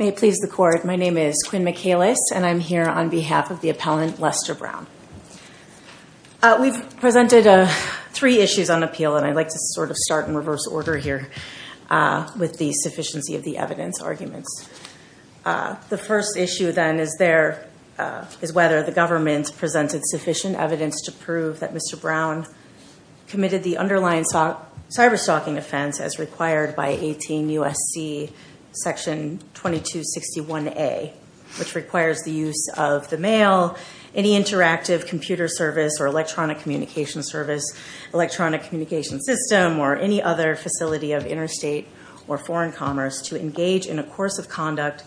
May it please the court, my name is Quinn McAlis and I'm here on behalf of the appellant Lester Brown. We've presented three issues on appeal and I'd like to sort of start in reverse order here with the sufficiency of the evidence arguments. The first issue then is whether the government presented sufficient evidence to prove that Mr. Brown committed the underlying cyber-stalking offense as required by 18 U.S.C. section 2261A, which requires the use of the mail, any interactive computer service or electronic communication service, electronic communication system, or any other facility of interstate or foreign commerce to engage in a course of conduct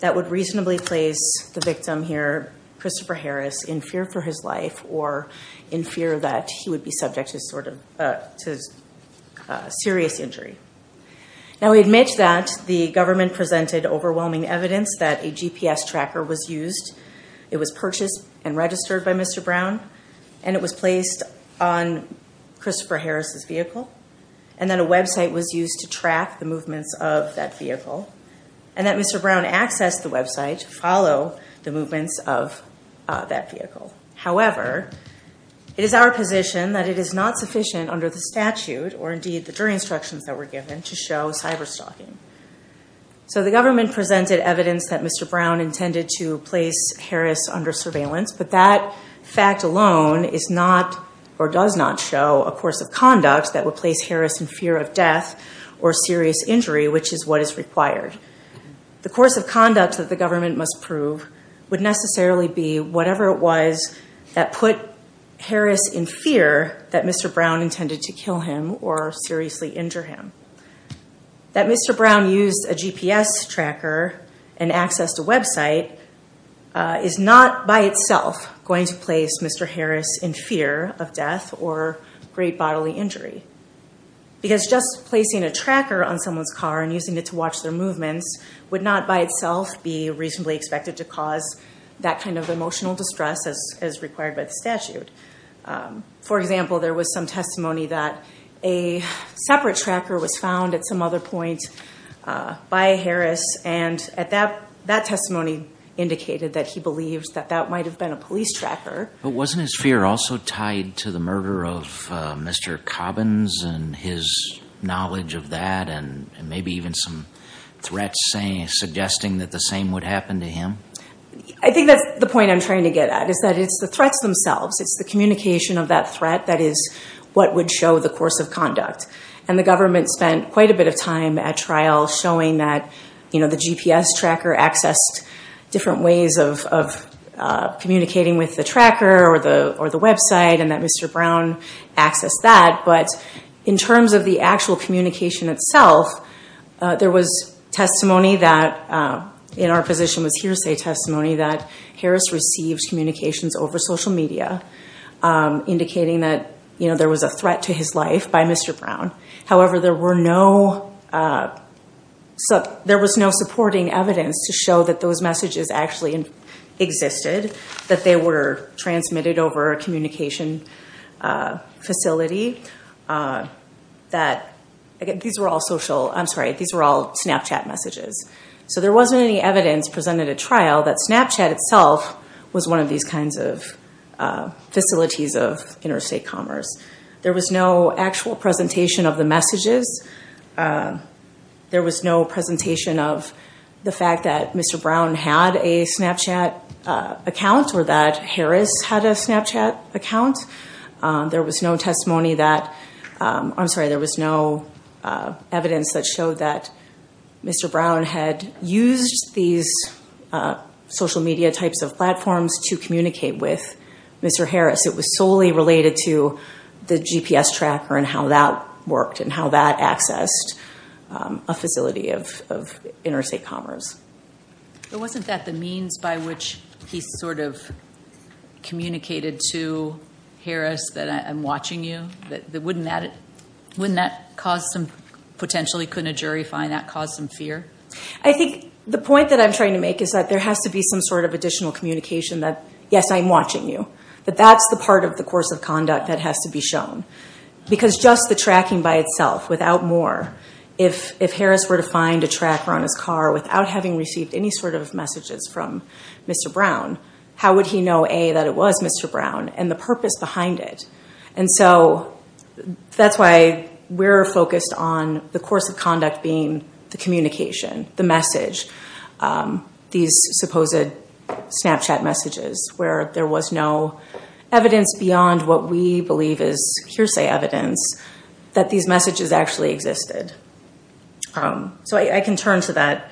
that would reasonably place the victim here, Christopher Harris, in fear for his life or in fear that he would be subject to serious injury. Now we admit that the government presented overwhelming evidence that a GPS tracker was used. It was purchased and registered by Mr. Brown and it was placed on Christopher Harris' vehicle and then a website was used to track the movements of that vehicle and that Mr. Brown accessed the website to follow the movements of that vehicle. However, it is our position that it is not sufficient under the statute or indeed the jury instructions that were given to show cyber-stalking. So the government presented evidence that Mr. Brown intended to place Harris under surveillance but that fact alone is not or does not show a course of conduct that would place Harris in fear of death or serious injury, which is what is required. The course of conduct that the government must prove would necessarily be whatever it was that put Harris in fear that Mr. Brown intended to kill him or seriously injure him. That Mr. Brown used a GPS tracker and accessed a website is not by itself going to place Mr. Harris in fear of death or great bodily injury. Because just placing a tracker on someone's car and using it to watch their movements would not by itself be reasonably expected to cause that kind of emotional distress as required by the statute. For example, there was some testimony that a separate tracker was found at some other point by Harris and that testimony indicated that he believes that that might have been a police tracker. But wasn't his fear also tied to the murder of Mr. Cobbins and his knowledge of that and maybe even some threats suggesting that the same would happen to him? I think that's the point I'm trying to get at is that it's the threats themselves. It's the communication of that threat that is what would show the course of conduct. And the government spent quite a bit of time at trial showing that the GPS tracker accessed different ways of communicating with the tracker or the website and that Mr. Brown accessed that. But in terms of the actual communication itself, there was testimony that, in our position was hearsay testimony, that Harris received communications over social media indicating that there was a threat to his life by Mr. Brown. However, there was no supporting evidence to show that those messages actually existed, that they were transmitted over a communication facility. These were all Snapchat messages. So there wasn't any evidence presented at trial that Snapchat itself was one of these kinds of facilities of interstate commerce. There was no actual presentation of the messages. There was no presentation of the fact that Mr. Brown had a Snapchat account or that Harris had a Snapchat account. There was no testimony that, I'm sorry, there was no evidence that showed that Mr. Brown had used these social media types of platforms to communicate with Mr. Harris. It was solely related to the GPS tracker and how that worked and how that accessed a facility of interstate commerce. But wasn't that the means by which he sort of communicated to Harris that I'm watching you? Wouldn't that cause some, potentially couldn't a jury find that, cause some fear? I think the point that I'm trying to make is that there has to be some sort of additional communication that, yes, I'm watching you. But that's the part of the course of conduct that has to be shown. Because just the tracking by itself, without more, if Harris were to find a tracker on his car without having received any sort of messages from Mr. Brown, how would he know, A, that it was Mr. Brown and the purpose behind it? And so that's why we're focused on the course of conduct being the communication, the message, these supposed Snapchat messages, where there was no evidence beyond what we believe is hearsay evidence that these messages actually existed. So I can turn to that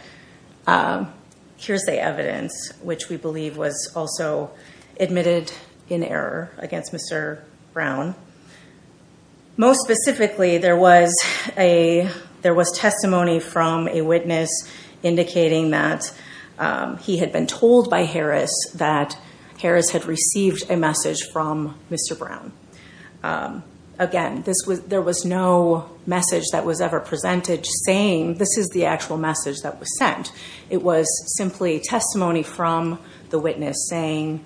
hearsay evidence, which we believe was also admitted in error against Mr. Brown. Most specifically, there was testimony from a witness indicating that he had been told by Harris that Harris had received a message from Mr. Brown. Again, there was no message that was ever presented saying, this is the actual message that was sent. It was simply testimony from the witness saying,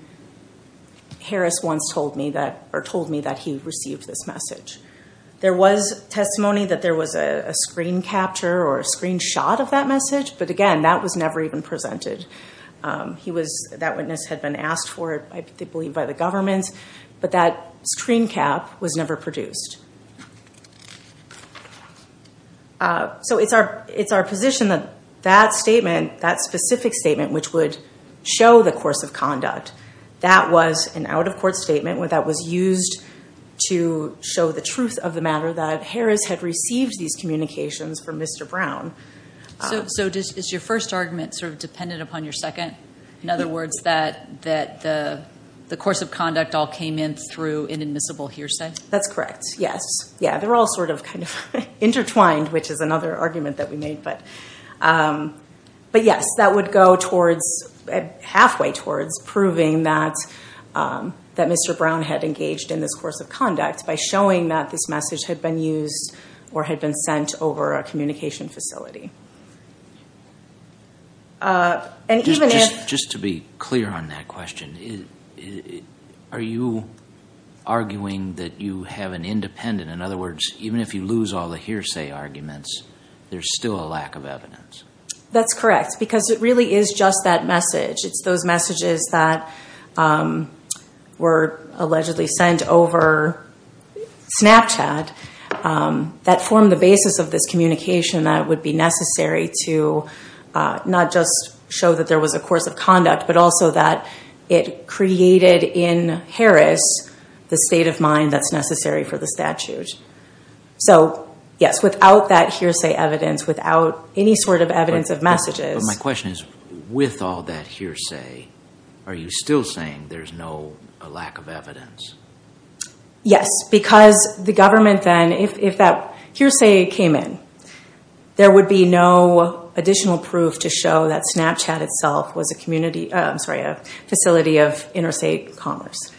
Harris once told me that, or told me that he received this message. There was testimony that there was a screen capture or a screenshot of that message, but again, that was never even presented. He was, that witness had been asked for it, I believe by the government, but that screen cap was never produced. So it's our position that that statement, that specific statement, which would show the course of conduct, that was an out-of-court statement that was used to show the truth of the matter, that Harris had received these communications from Mr. Brown. So is your first argument sort of dependent upon your second? In other words, that the course of conduct all came in through inadmissible hearsay? That's correct, yes. Yeah, they're all sort of kind of intertwined, which is another argument that we made, but yes, that would go towards, halfway towards, proving that Mr. Brown had engaged in this course of conduct by showing that this message had been used or had been sent over a communication facility. Just to be clear on that question, are you arguing that you have an independent, in other words, even if you lose all the hearsay arguments, there's still a lack of evidence? That's correct, because it really is just that message. It's those messages that were allegedly sent over Snapchat that formed the basis of this communication that would be necessary to not just show that there was a course of conduct, but also that it created in Harris the state of mind that's necessary for the statute. So, yes, without that hearsay evidence, without any sort of evidence of messages. But my question is, with all that hearsay, are you still saying there's no lack of evidence? Yes, because the government then, if that hearsay came in, there would be no additional proof to show that Snapchat itself was a community, I'm sorry, a facility of interstate commerce,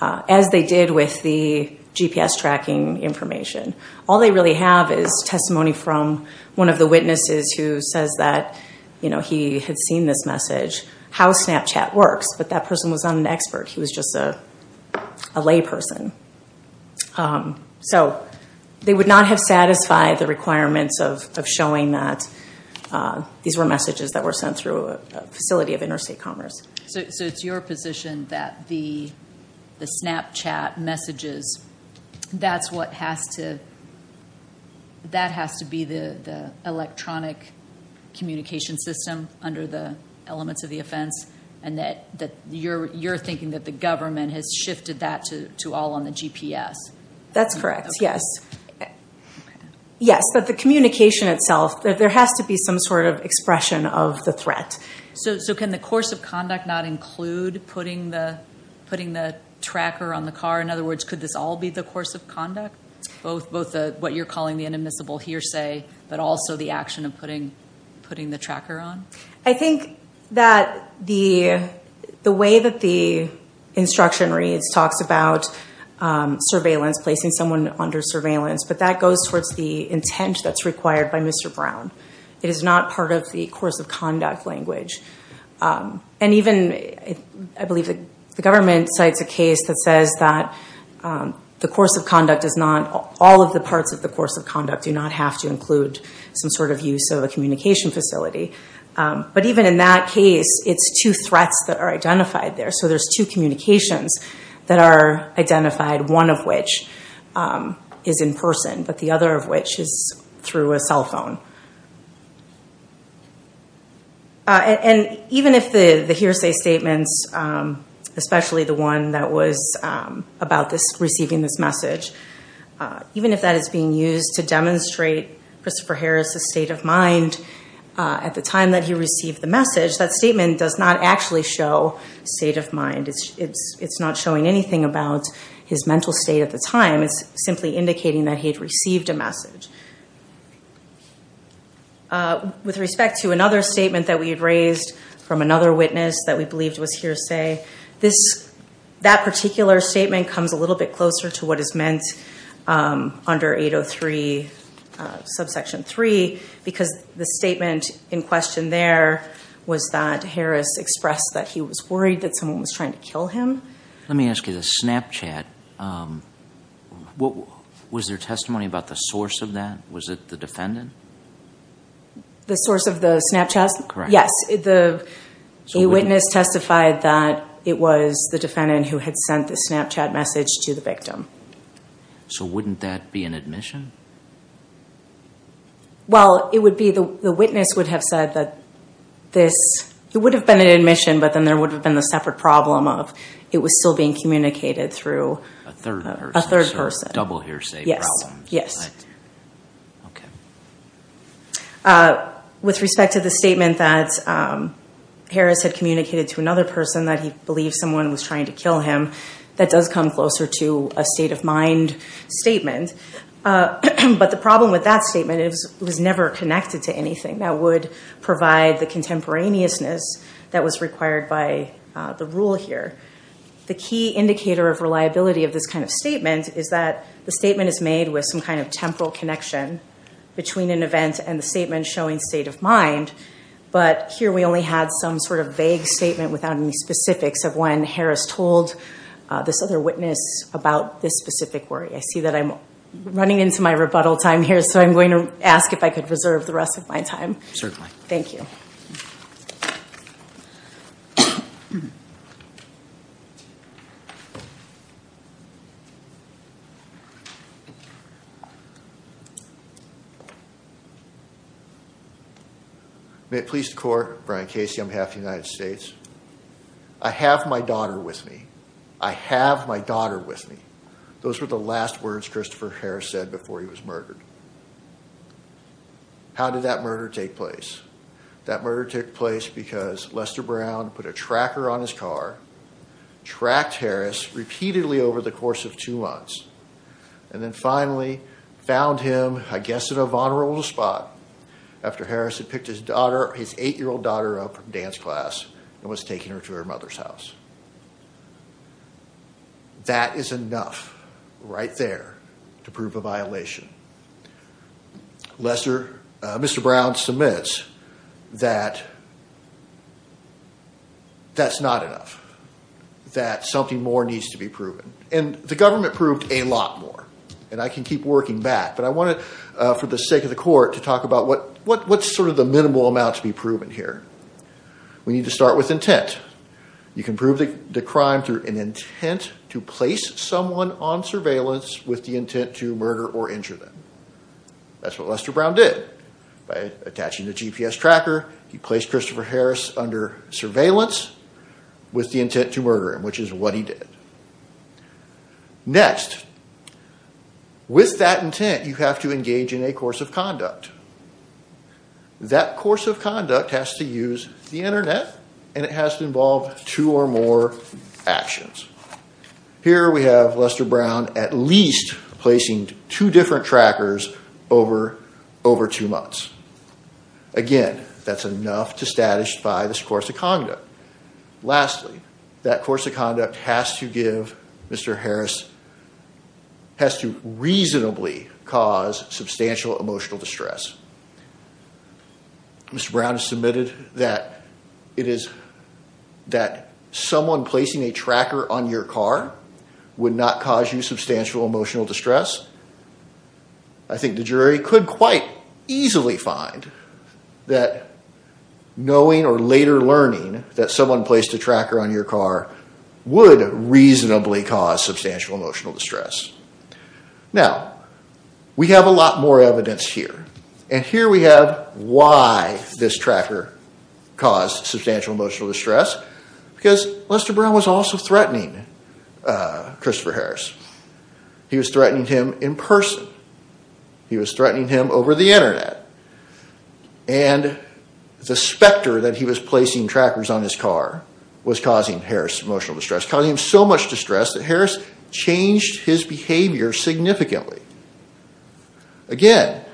as they did with the GPS tracking information. All they really have is testimony from one of the witnesses who says that he had seen this message, how Snapchat works, but that person was not an expert. He was just a layperson. So they would not have satisfied the requirements of showing that these were messages that were sent through a facility of interstate commerce. So it's your position that the Snapchat messages, that has to be the electronic communication system under the elements of the offense, and that you're thinking that the government has shifted that to all on the GPS? That's correct, yes. Yes, but the communication itself, there has to be some sort of expression of the threat. So can the course of conduct not include putting the tracker on the car? In other words, could this all be the course of conduct? Both what you're calling the inadmissible hearsay, but also the action of putting the tracker on? I think that the way that the instruction reads, talks about surveillance, placing someone under surveillance, but that goes towards the intent that's required by Mr. Brown. It is not part of the course of conduct language. And even, I believe the government cites a case that says that the course of conduct does not, all of the parts of the course of conduct do not have to include some sort of use of a communication facility. But even in that case, it's two threats that are identified there. So there's two communications that are identified, one of which is in person, but the other of which is through a cell phone. And even if the hearsay statements, especially the one that was about this receiving this message, even if that is being used to demonstrate Christopher Harris' state of mind at the time that he received the message, that statement does not actually show state of mind. It's not showing anything about his mental state at the time. It's simply indicating that he'd received a message. With respect to another statement that we had raised from another witness that we believed was hearsay, this, that particular statement comes a little bit closer to what is meant under 803, subsection 3, because the statement in question there was that Harris expressed that he was worried that someone was trying to kill him. Let me ask you this, Snapchat, what was their testimony about the source of that? Was it the defendant? The source of the Snapchat? Yes, the witness testified that it was the defendant who had sent the Snapchat message to the victim. So wouldn't that be an admission? Well, it would be, the witness would have said that this, it would have been an admission, but then there would have been a separate problem of it was still being communicated through a third person. So it's a double hearsay problem. Okay. With respect to the statement that Harris had communicated to another person that he believed someone was trying to kill him, that does come closer to a state of mind statement. But the problem with that statement, it was never connected to anything that would provide the contemporaneousness that was required by the rule here. The key indicator of reliability of this kind of statement is that the statement is made with some kind of temporal connection between an event and the statement showing state of mind. But here we only had some sort of vague statement without any specifics of when Harris told this other witness about this specific worry. I see that I'm running into my rebuttal time here, so I'm going to ask if I could reserve the rest of my time. Thank you. May it please the court, Brian Casey on behalf of the United States. I have my daughter with me. I have my daughter with me. Those were the last words Christopher Harris said before he was murdered. How did that murder take place? That murder took place because Lester Brown put a tracker on his car tracked Harris repeatedly over the course of two months. And then finally found him, I guess at a vulnerable spot after Harris had picked his daughter, his eight-year-old daughter up from dance class and was taking her to her mother's house. That is enough right there to prove a violation. Lester, Mr. Brown submits that that's not enough. That something more needs to be proven. And the government proved a lot more and I can keep working back, but I wanted for the sake of the court to talk about what, what's sort of the minimal amount to be proven here. We need to start with intent. You can prove the crime through an intent to place someone on surveillance with the intent to murder or injure them. That's what Lester Brown did by attaching the GPS tracker. He placed Christopher Harris under surveillance with the intent to murder him. Which is what he did. Next with that intent, you have to engage in a course of conduct. That course of conduct has to use the internet and it has to involve two or more actions. Here we have Lester Brown, at least placing two different trackers over, over two months. Again, that's enough to status by this course of conduct. Lastly, that course of conduct has to give Mr. Harris has to reasonably cause substantial emotional distress. Mr. Brown has submitted that it is that someone placing a tracker on your car would not cause you substantial emotional distress. I think the jury could quite easily find that knowing or later learning that someone placed a tracker on your car would reasonably cause substantial emotional distress. Now we have a lot more evidence here. And here we have why this tracker caused substantial emotional distress. Because Lester Brown was also threatening Christopher Harris. He was threatening him in person. He was threatening him over the internet. And the specter that he was placing trackers on his car was causing Harris emotional distress. Causing him so much distress that Harris changed his behavior significantly. Again,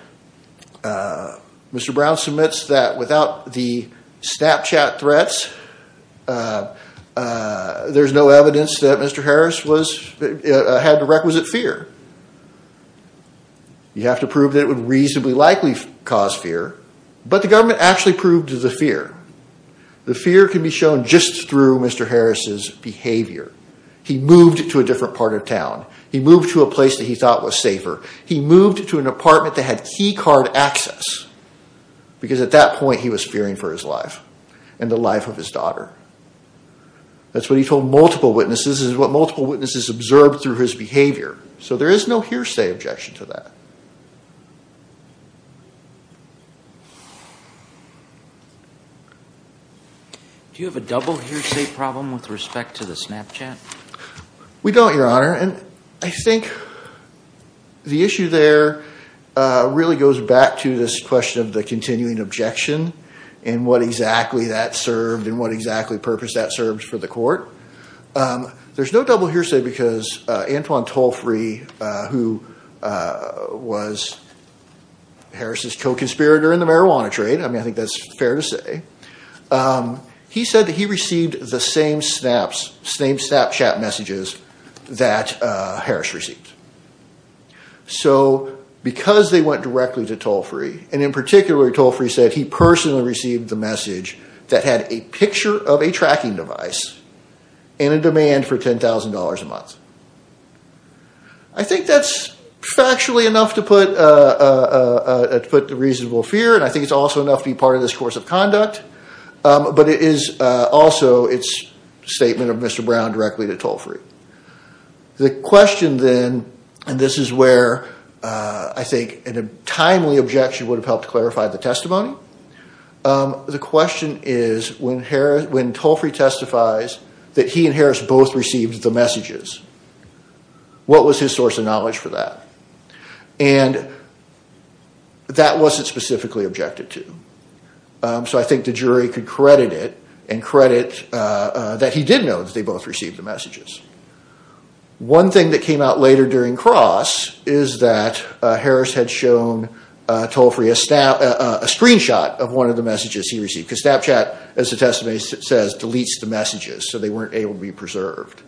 Mr. Brown submits that without the Snapchat threats, there's no evidence that Mr. Harris had the requisite fear. You have to prove that it would reasonably likely cause fear. But the government actually proved the fear. The fear can be shown just through Mr. Harris's behavior. He moved to a different part of town. He moved to a place that he thought was safer. He moved to an apartment that had key card access because at that point he was fearing for his life and the life of his daughter. That's what he told multiple witnesses is what multiple witnesses observed through his behavior. So there is no hearsay objection to that. Do you have a double hearsay problem with respect to the Snapchat? We don't, Your Honor. And I think the issue there really goes back to this question of the continuing objection and what exactly that served and what exactly purpose that serves for the court. There's no double hearsay because Antoine Tolfrey, who was Harris's co-conspirator in the marijuana trade. I mean, I think that's fair to say. He said that he received the same snaps, same Snapchat messages that Harris received. So because they went directly to Tolfrey and in particular, Tolfrey said he personally received the message that had a picture of a Snapchat and a demand for $10,000 a month. I think that's factually enough to put the reasonable fear. And I think it's also enough to be part of this course of conduct. But it is also its statement of Mr. Brown directly to Tolfrey. The question then, and this is where I think in a timely objection would have helped clarify the testimony. The question is when Tolfrey testifies that he and Harris both received the messages, what was his source of knowledge for that? And that wasn't specifically objected to. So I think the jury could credit it and credit that he did know that they both received the messages. One thing that came out later during Cross is that Harris had shown Tolfrey a screenshot of one of the messages he received. Because Snapchat, as the testimony says, deletes the messages. So they weren't able to be preserved.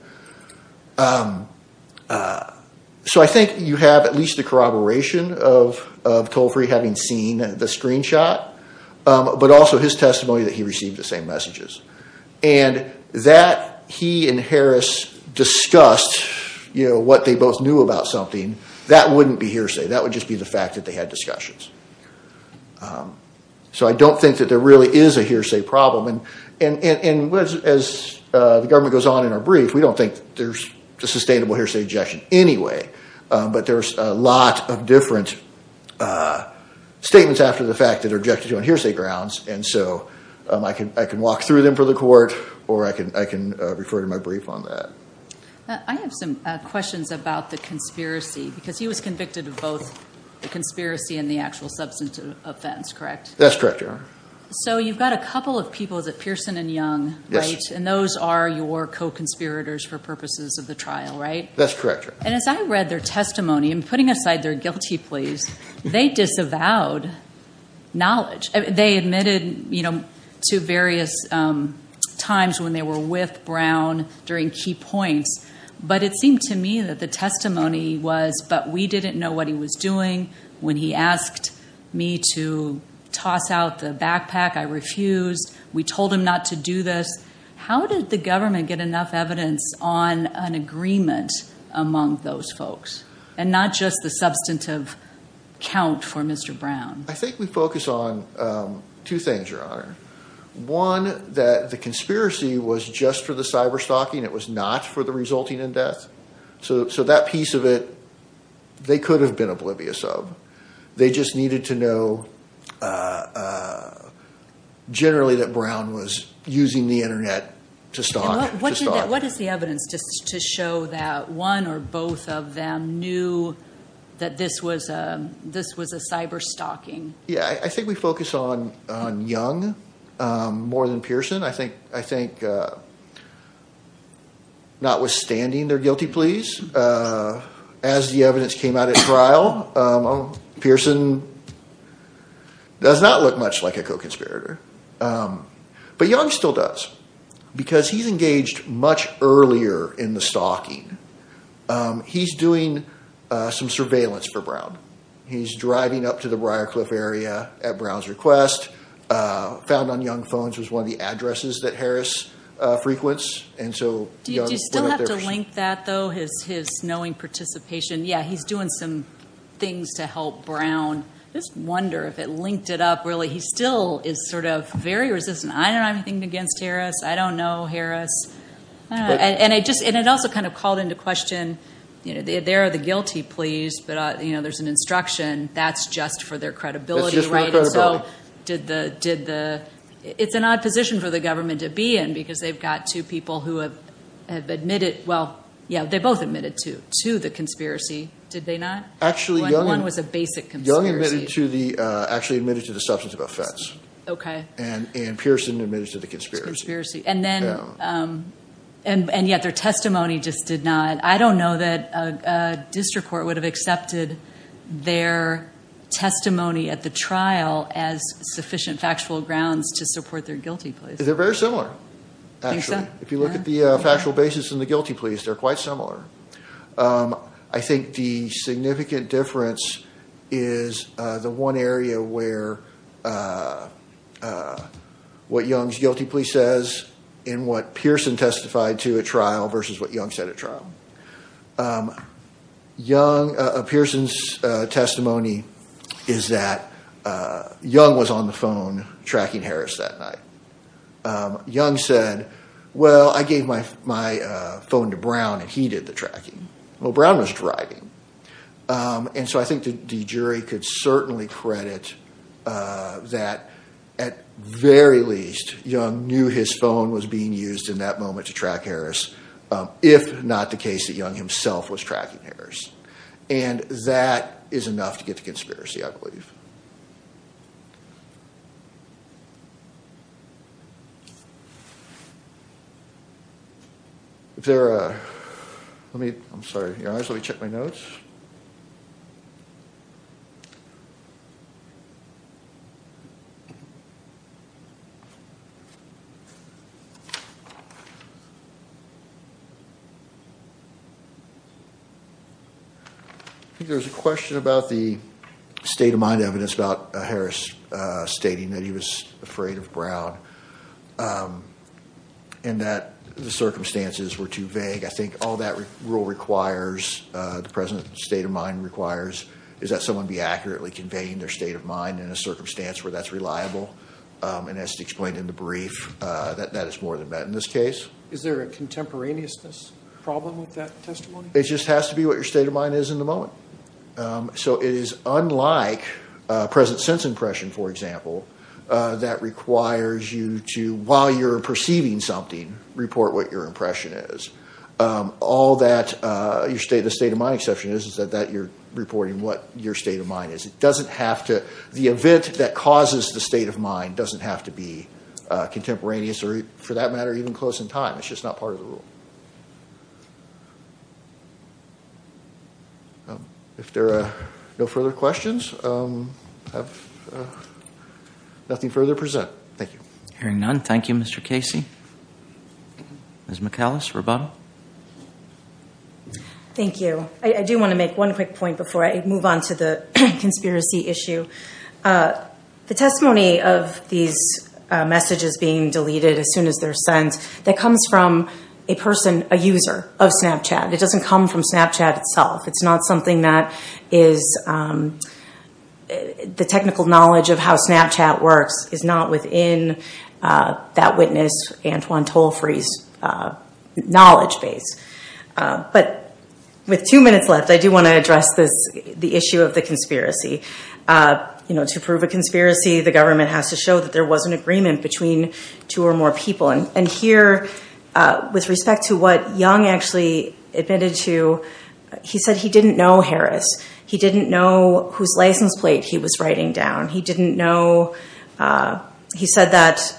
So I think you have at least a corroboration of Tolfrey having seen the screenshot, but also his testimony that he received the same messages. And that he and Harris discussed what they both knew about something, that wouldn't be hearsay. That would just be the fact that they had discussions. So I don't think that there really is a hearsay problem. And as the government goes on in our brief, we don't think there's a sustainable hearsay objection anyway. But there's a lot of different statements after the fact that are objected to on hearsay grounds. And so I can walk through them for the court or I can refer to my brief on that. I have some questions about the conspiracy because he was convicted of the conspiracy and the actual substance offense, correct? That's correct, Your Honor. So you've got a couple of people, is it Pearson and Young, right? And those are your co-conspirators for purposes of the trial, right? That's correct, Your Honor. And as I read their testimony, and putting aside their guilty pleas, they disavowed knowledge. They admitted to various times when they were with Brown during key points, but it seemed to me that the testimony was, but we didn't know what he was doing. When he asked me to toss out the backpack, I refused. We told him not to do this. How did the government get enough evidence on an agreement among those folks and not just the substantive count for Mr. Brown? I think we focus on two things, Your Honor. One, that the conspiracy was just for the cyberstalking. It was not for the resulting in death. So that piece of it, they could have been oblivious of. They just needed to know generally that Brown was using the internet to stalk. What is the evidence to show that one or both of them knew that this was a cyberstalking? Yeah, I think we focus on Young more than Pearson. I think notwithstanding their guilty pleas, as the evidence came out at trial, Pearson does not look much like a co-conspirator. But Young still does because he's engaged much earlier in the stalking. He's doing some surveillance for Brown. He's driving up to the Briarcliff area at Brown's request, found on Young's phone. It was one of the addresses that Harris frequents. Do you still have to link that, though, his knowing participation? Yeah, he's doing some things to help Brown. I just wonder if it linked it up, really. He still is sort of very resistant. I don't have anything against Harris. I don't know Harris. And it also kind of called into question, they're the guilty pleas, but there's an instruction. That's just for their credibility, right? And so, it's an odd position for the government to be in because they've got two people who have admitted, well, yeah, they both admitted to the conspiracy, did they not? When Young was a basic conspiracy. Young actually admitted to the substance of offense. And Pearson admitted to the conspiracy. And yet their testimony just did not. I don't know that a district court would have accepted their testimony at the trial as sufficient factual grounds to support their guilty pleas. They're very similar, actually. If you look at the factual basis in the guilty pleas, they're quite similar. I think the significant difference is the one area where what Young's guilty plea says and what Pearson testified to at trial versus what Young said at trial. Young, Pearson's testimony is that Young was on the phone tracking Harris that night. Young said, well, I gave my phone to Brown and he did the tracking. Well, Brown was driving. And so, I think the jury could certainly credit that at very least, Young knew his phone was being used in that moment to track Harris, if not the case that Young himself was tracking Harris. And that is enough to get to conspiracy, I believe. If there are... I'm sorry. Let me check my notes. There's a question about the state of mind evidence about Harris stating that he was afraid of Brown and that the circumstances were too vague. I think all that rule requires, the present state of mind requires is that someone be accurately conveying their state of mind in a circumstance where that's reliable. And as explained in the brief, that is more than met in this case. Is there a contemporaneousness problem with that testimony? It just has to be what your state of mind is in the moment. So, it is unlike present sense impression, for example, that requires you to, while you're perceiving something, report what your impression is. All that your state of mind exception is is that you're reporting what your state of mind is. It doesn't have to... The event that causes the state of mind doesn't have to be contemporaneous or, for that matter, even close in time. It's just not part of the rule. If there are no further questions, I have nothing further to present. Thank you. Hearing none, thank you, Mr. Casey. Ms. McAllis, Roboto? Thank you. I do want to make one quick point before I move on to the conspiracy issue. The testimony of these messages being deleted as soon as they're sent, that comes from a person, a user of Snapchat. It doesn't come from Snapchat itself. It's not something that is... The technical knowledge of how Snapchat works is not within that witness, Antoine Tollfrey's, knowledge base. But with two minutes left, I do want to address the issue of the conspiracy. To prove a conspiracy, the government has to show that there was an agreement between two or more people. And here, with respect to what Young actually admitted to, he said he didn't know Harris. He didn't know whose license plate he was writing down. He didn't know... He said that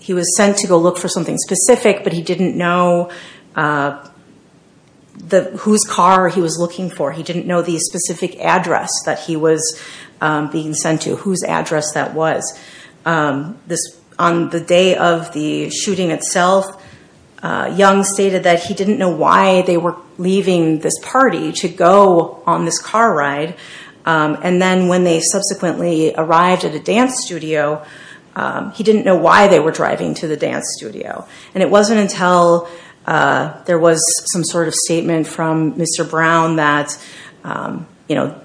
he was sent to go look for something specific, but he didn't know whose car he was looking for. He didn't know the specific address that he was being sent to, whose address that was. On the day of the shooting itself, Young stated that he didn't know why they were leaving this party to go on this car ride. And then when they subsequently arrived at a dance studio, he didn't know why they were driving to the dance studio. And it wasn't until there was some sort of statement from Mr. Brown that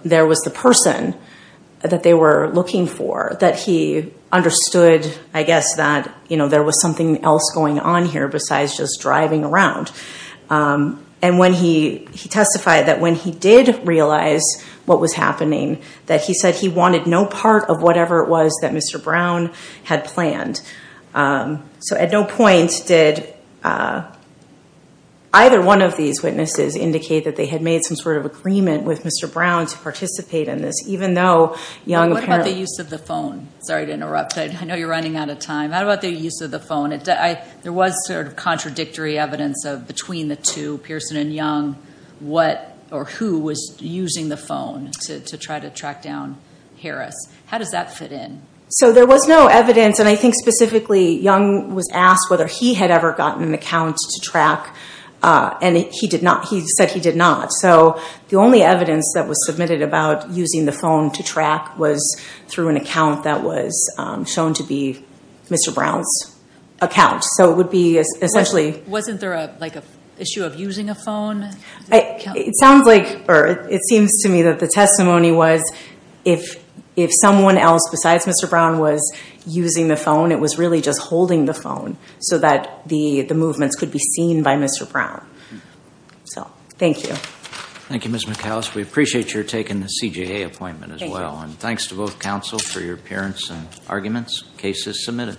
there was the person that they were looking for, that he understood, I guess, that there was something else going on here, besides just driving around. And he testified that when he did realize what was happening, that he said he wanted no part of whatever it was that Mr. Brown had planned. So at no point did either one of these witnesses indicate that they had made some sort of agreement with Mr. Brown to participate in this, even though Young... What about the use of the phone? Sorry to interrupt. I know you're running out of time. How about the use of the phone? There was sort of contradictory evidence of between the two, Pearson and Young, what or who was using the phone to try to track down Harris. How does that fit in? So there was no evidence. And I think specifically Young was asked whether he had ever gotten an account to track. And he did not. He said he did not. So the only evidence that was submitted about using the phone to track was through an account that was shown to be Mr. Brown's account. So it would be essentially... Wasn't there like an issue of using a phone? It sounds like, or it seems to me that the testimony was if someone else besides Mr. Brown was using the phone, it was really just holding the phone so that the movements could be seen by Mr. Brown. So, thank you. Thank you, Ms. McCallis. We appreciate your taking the CJA appointment as well. And thanks to both counsel for your appearance and arguments. Case is submitted.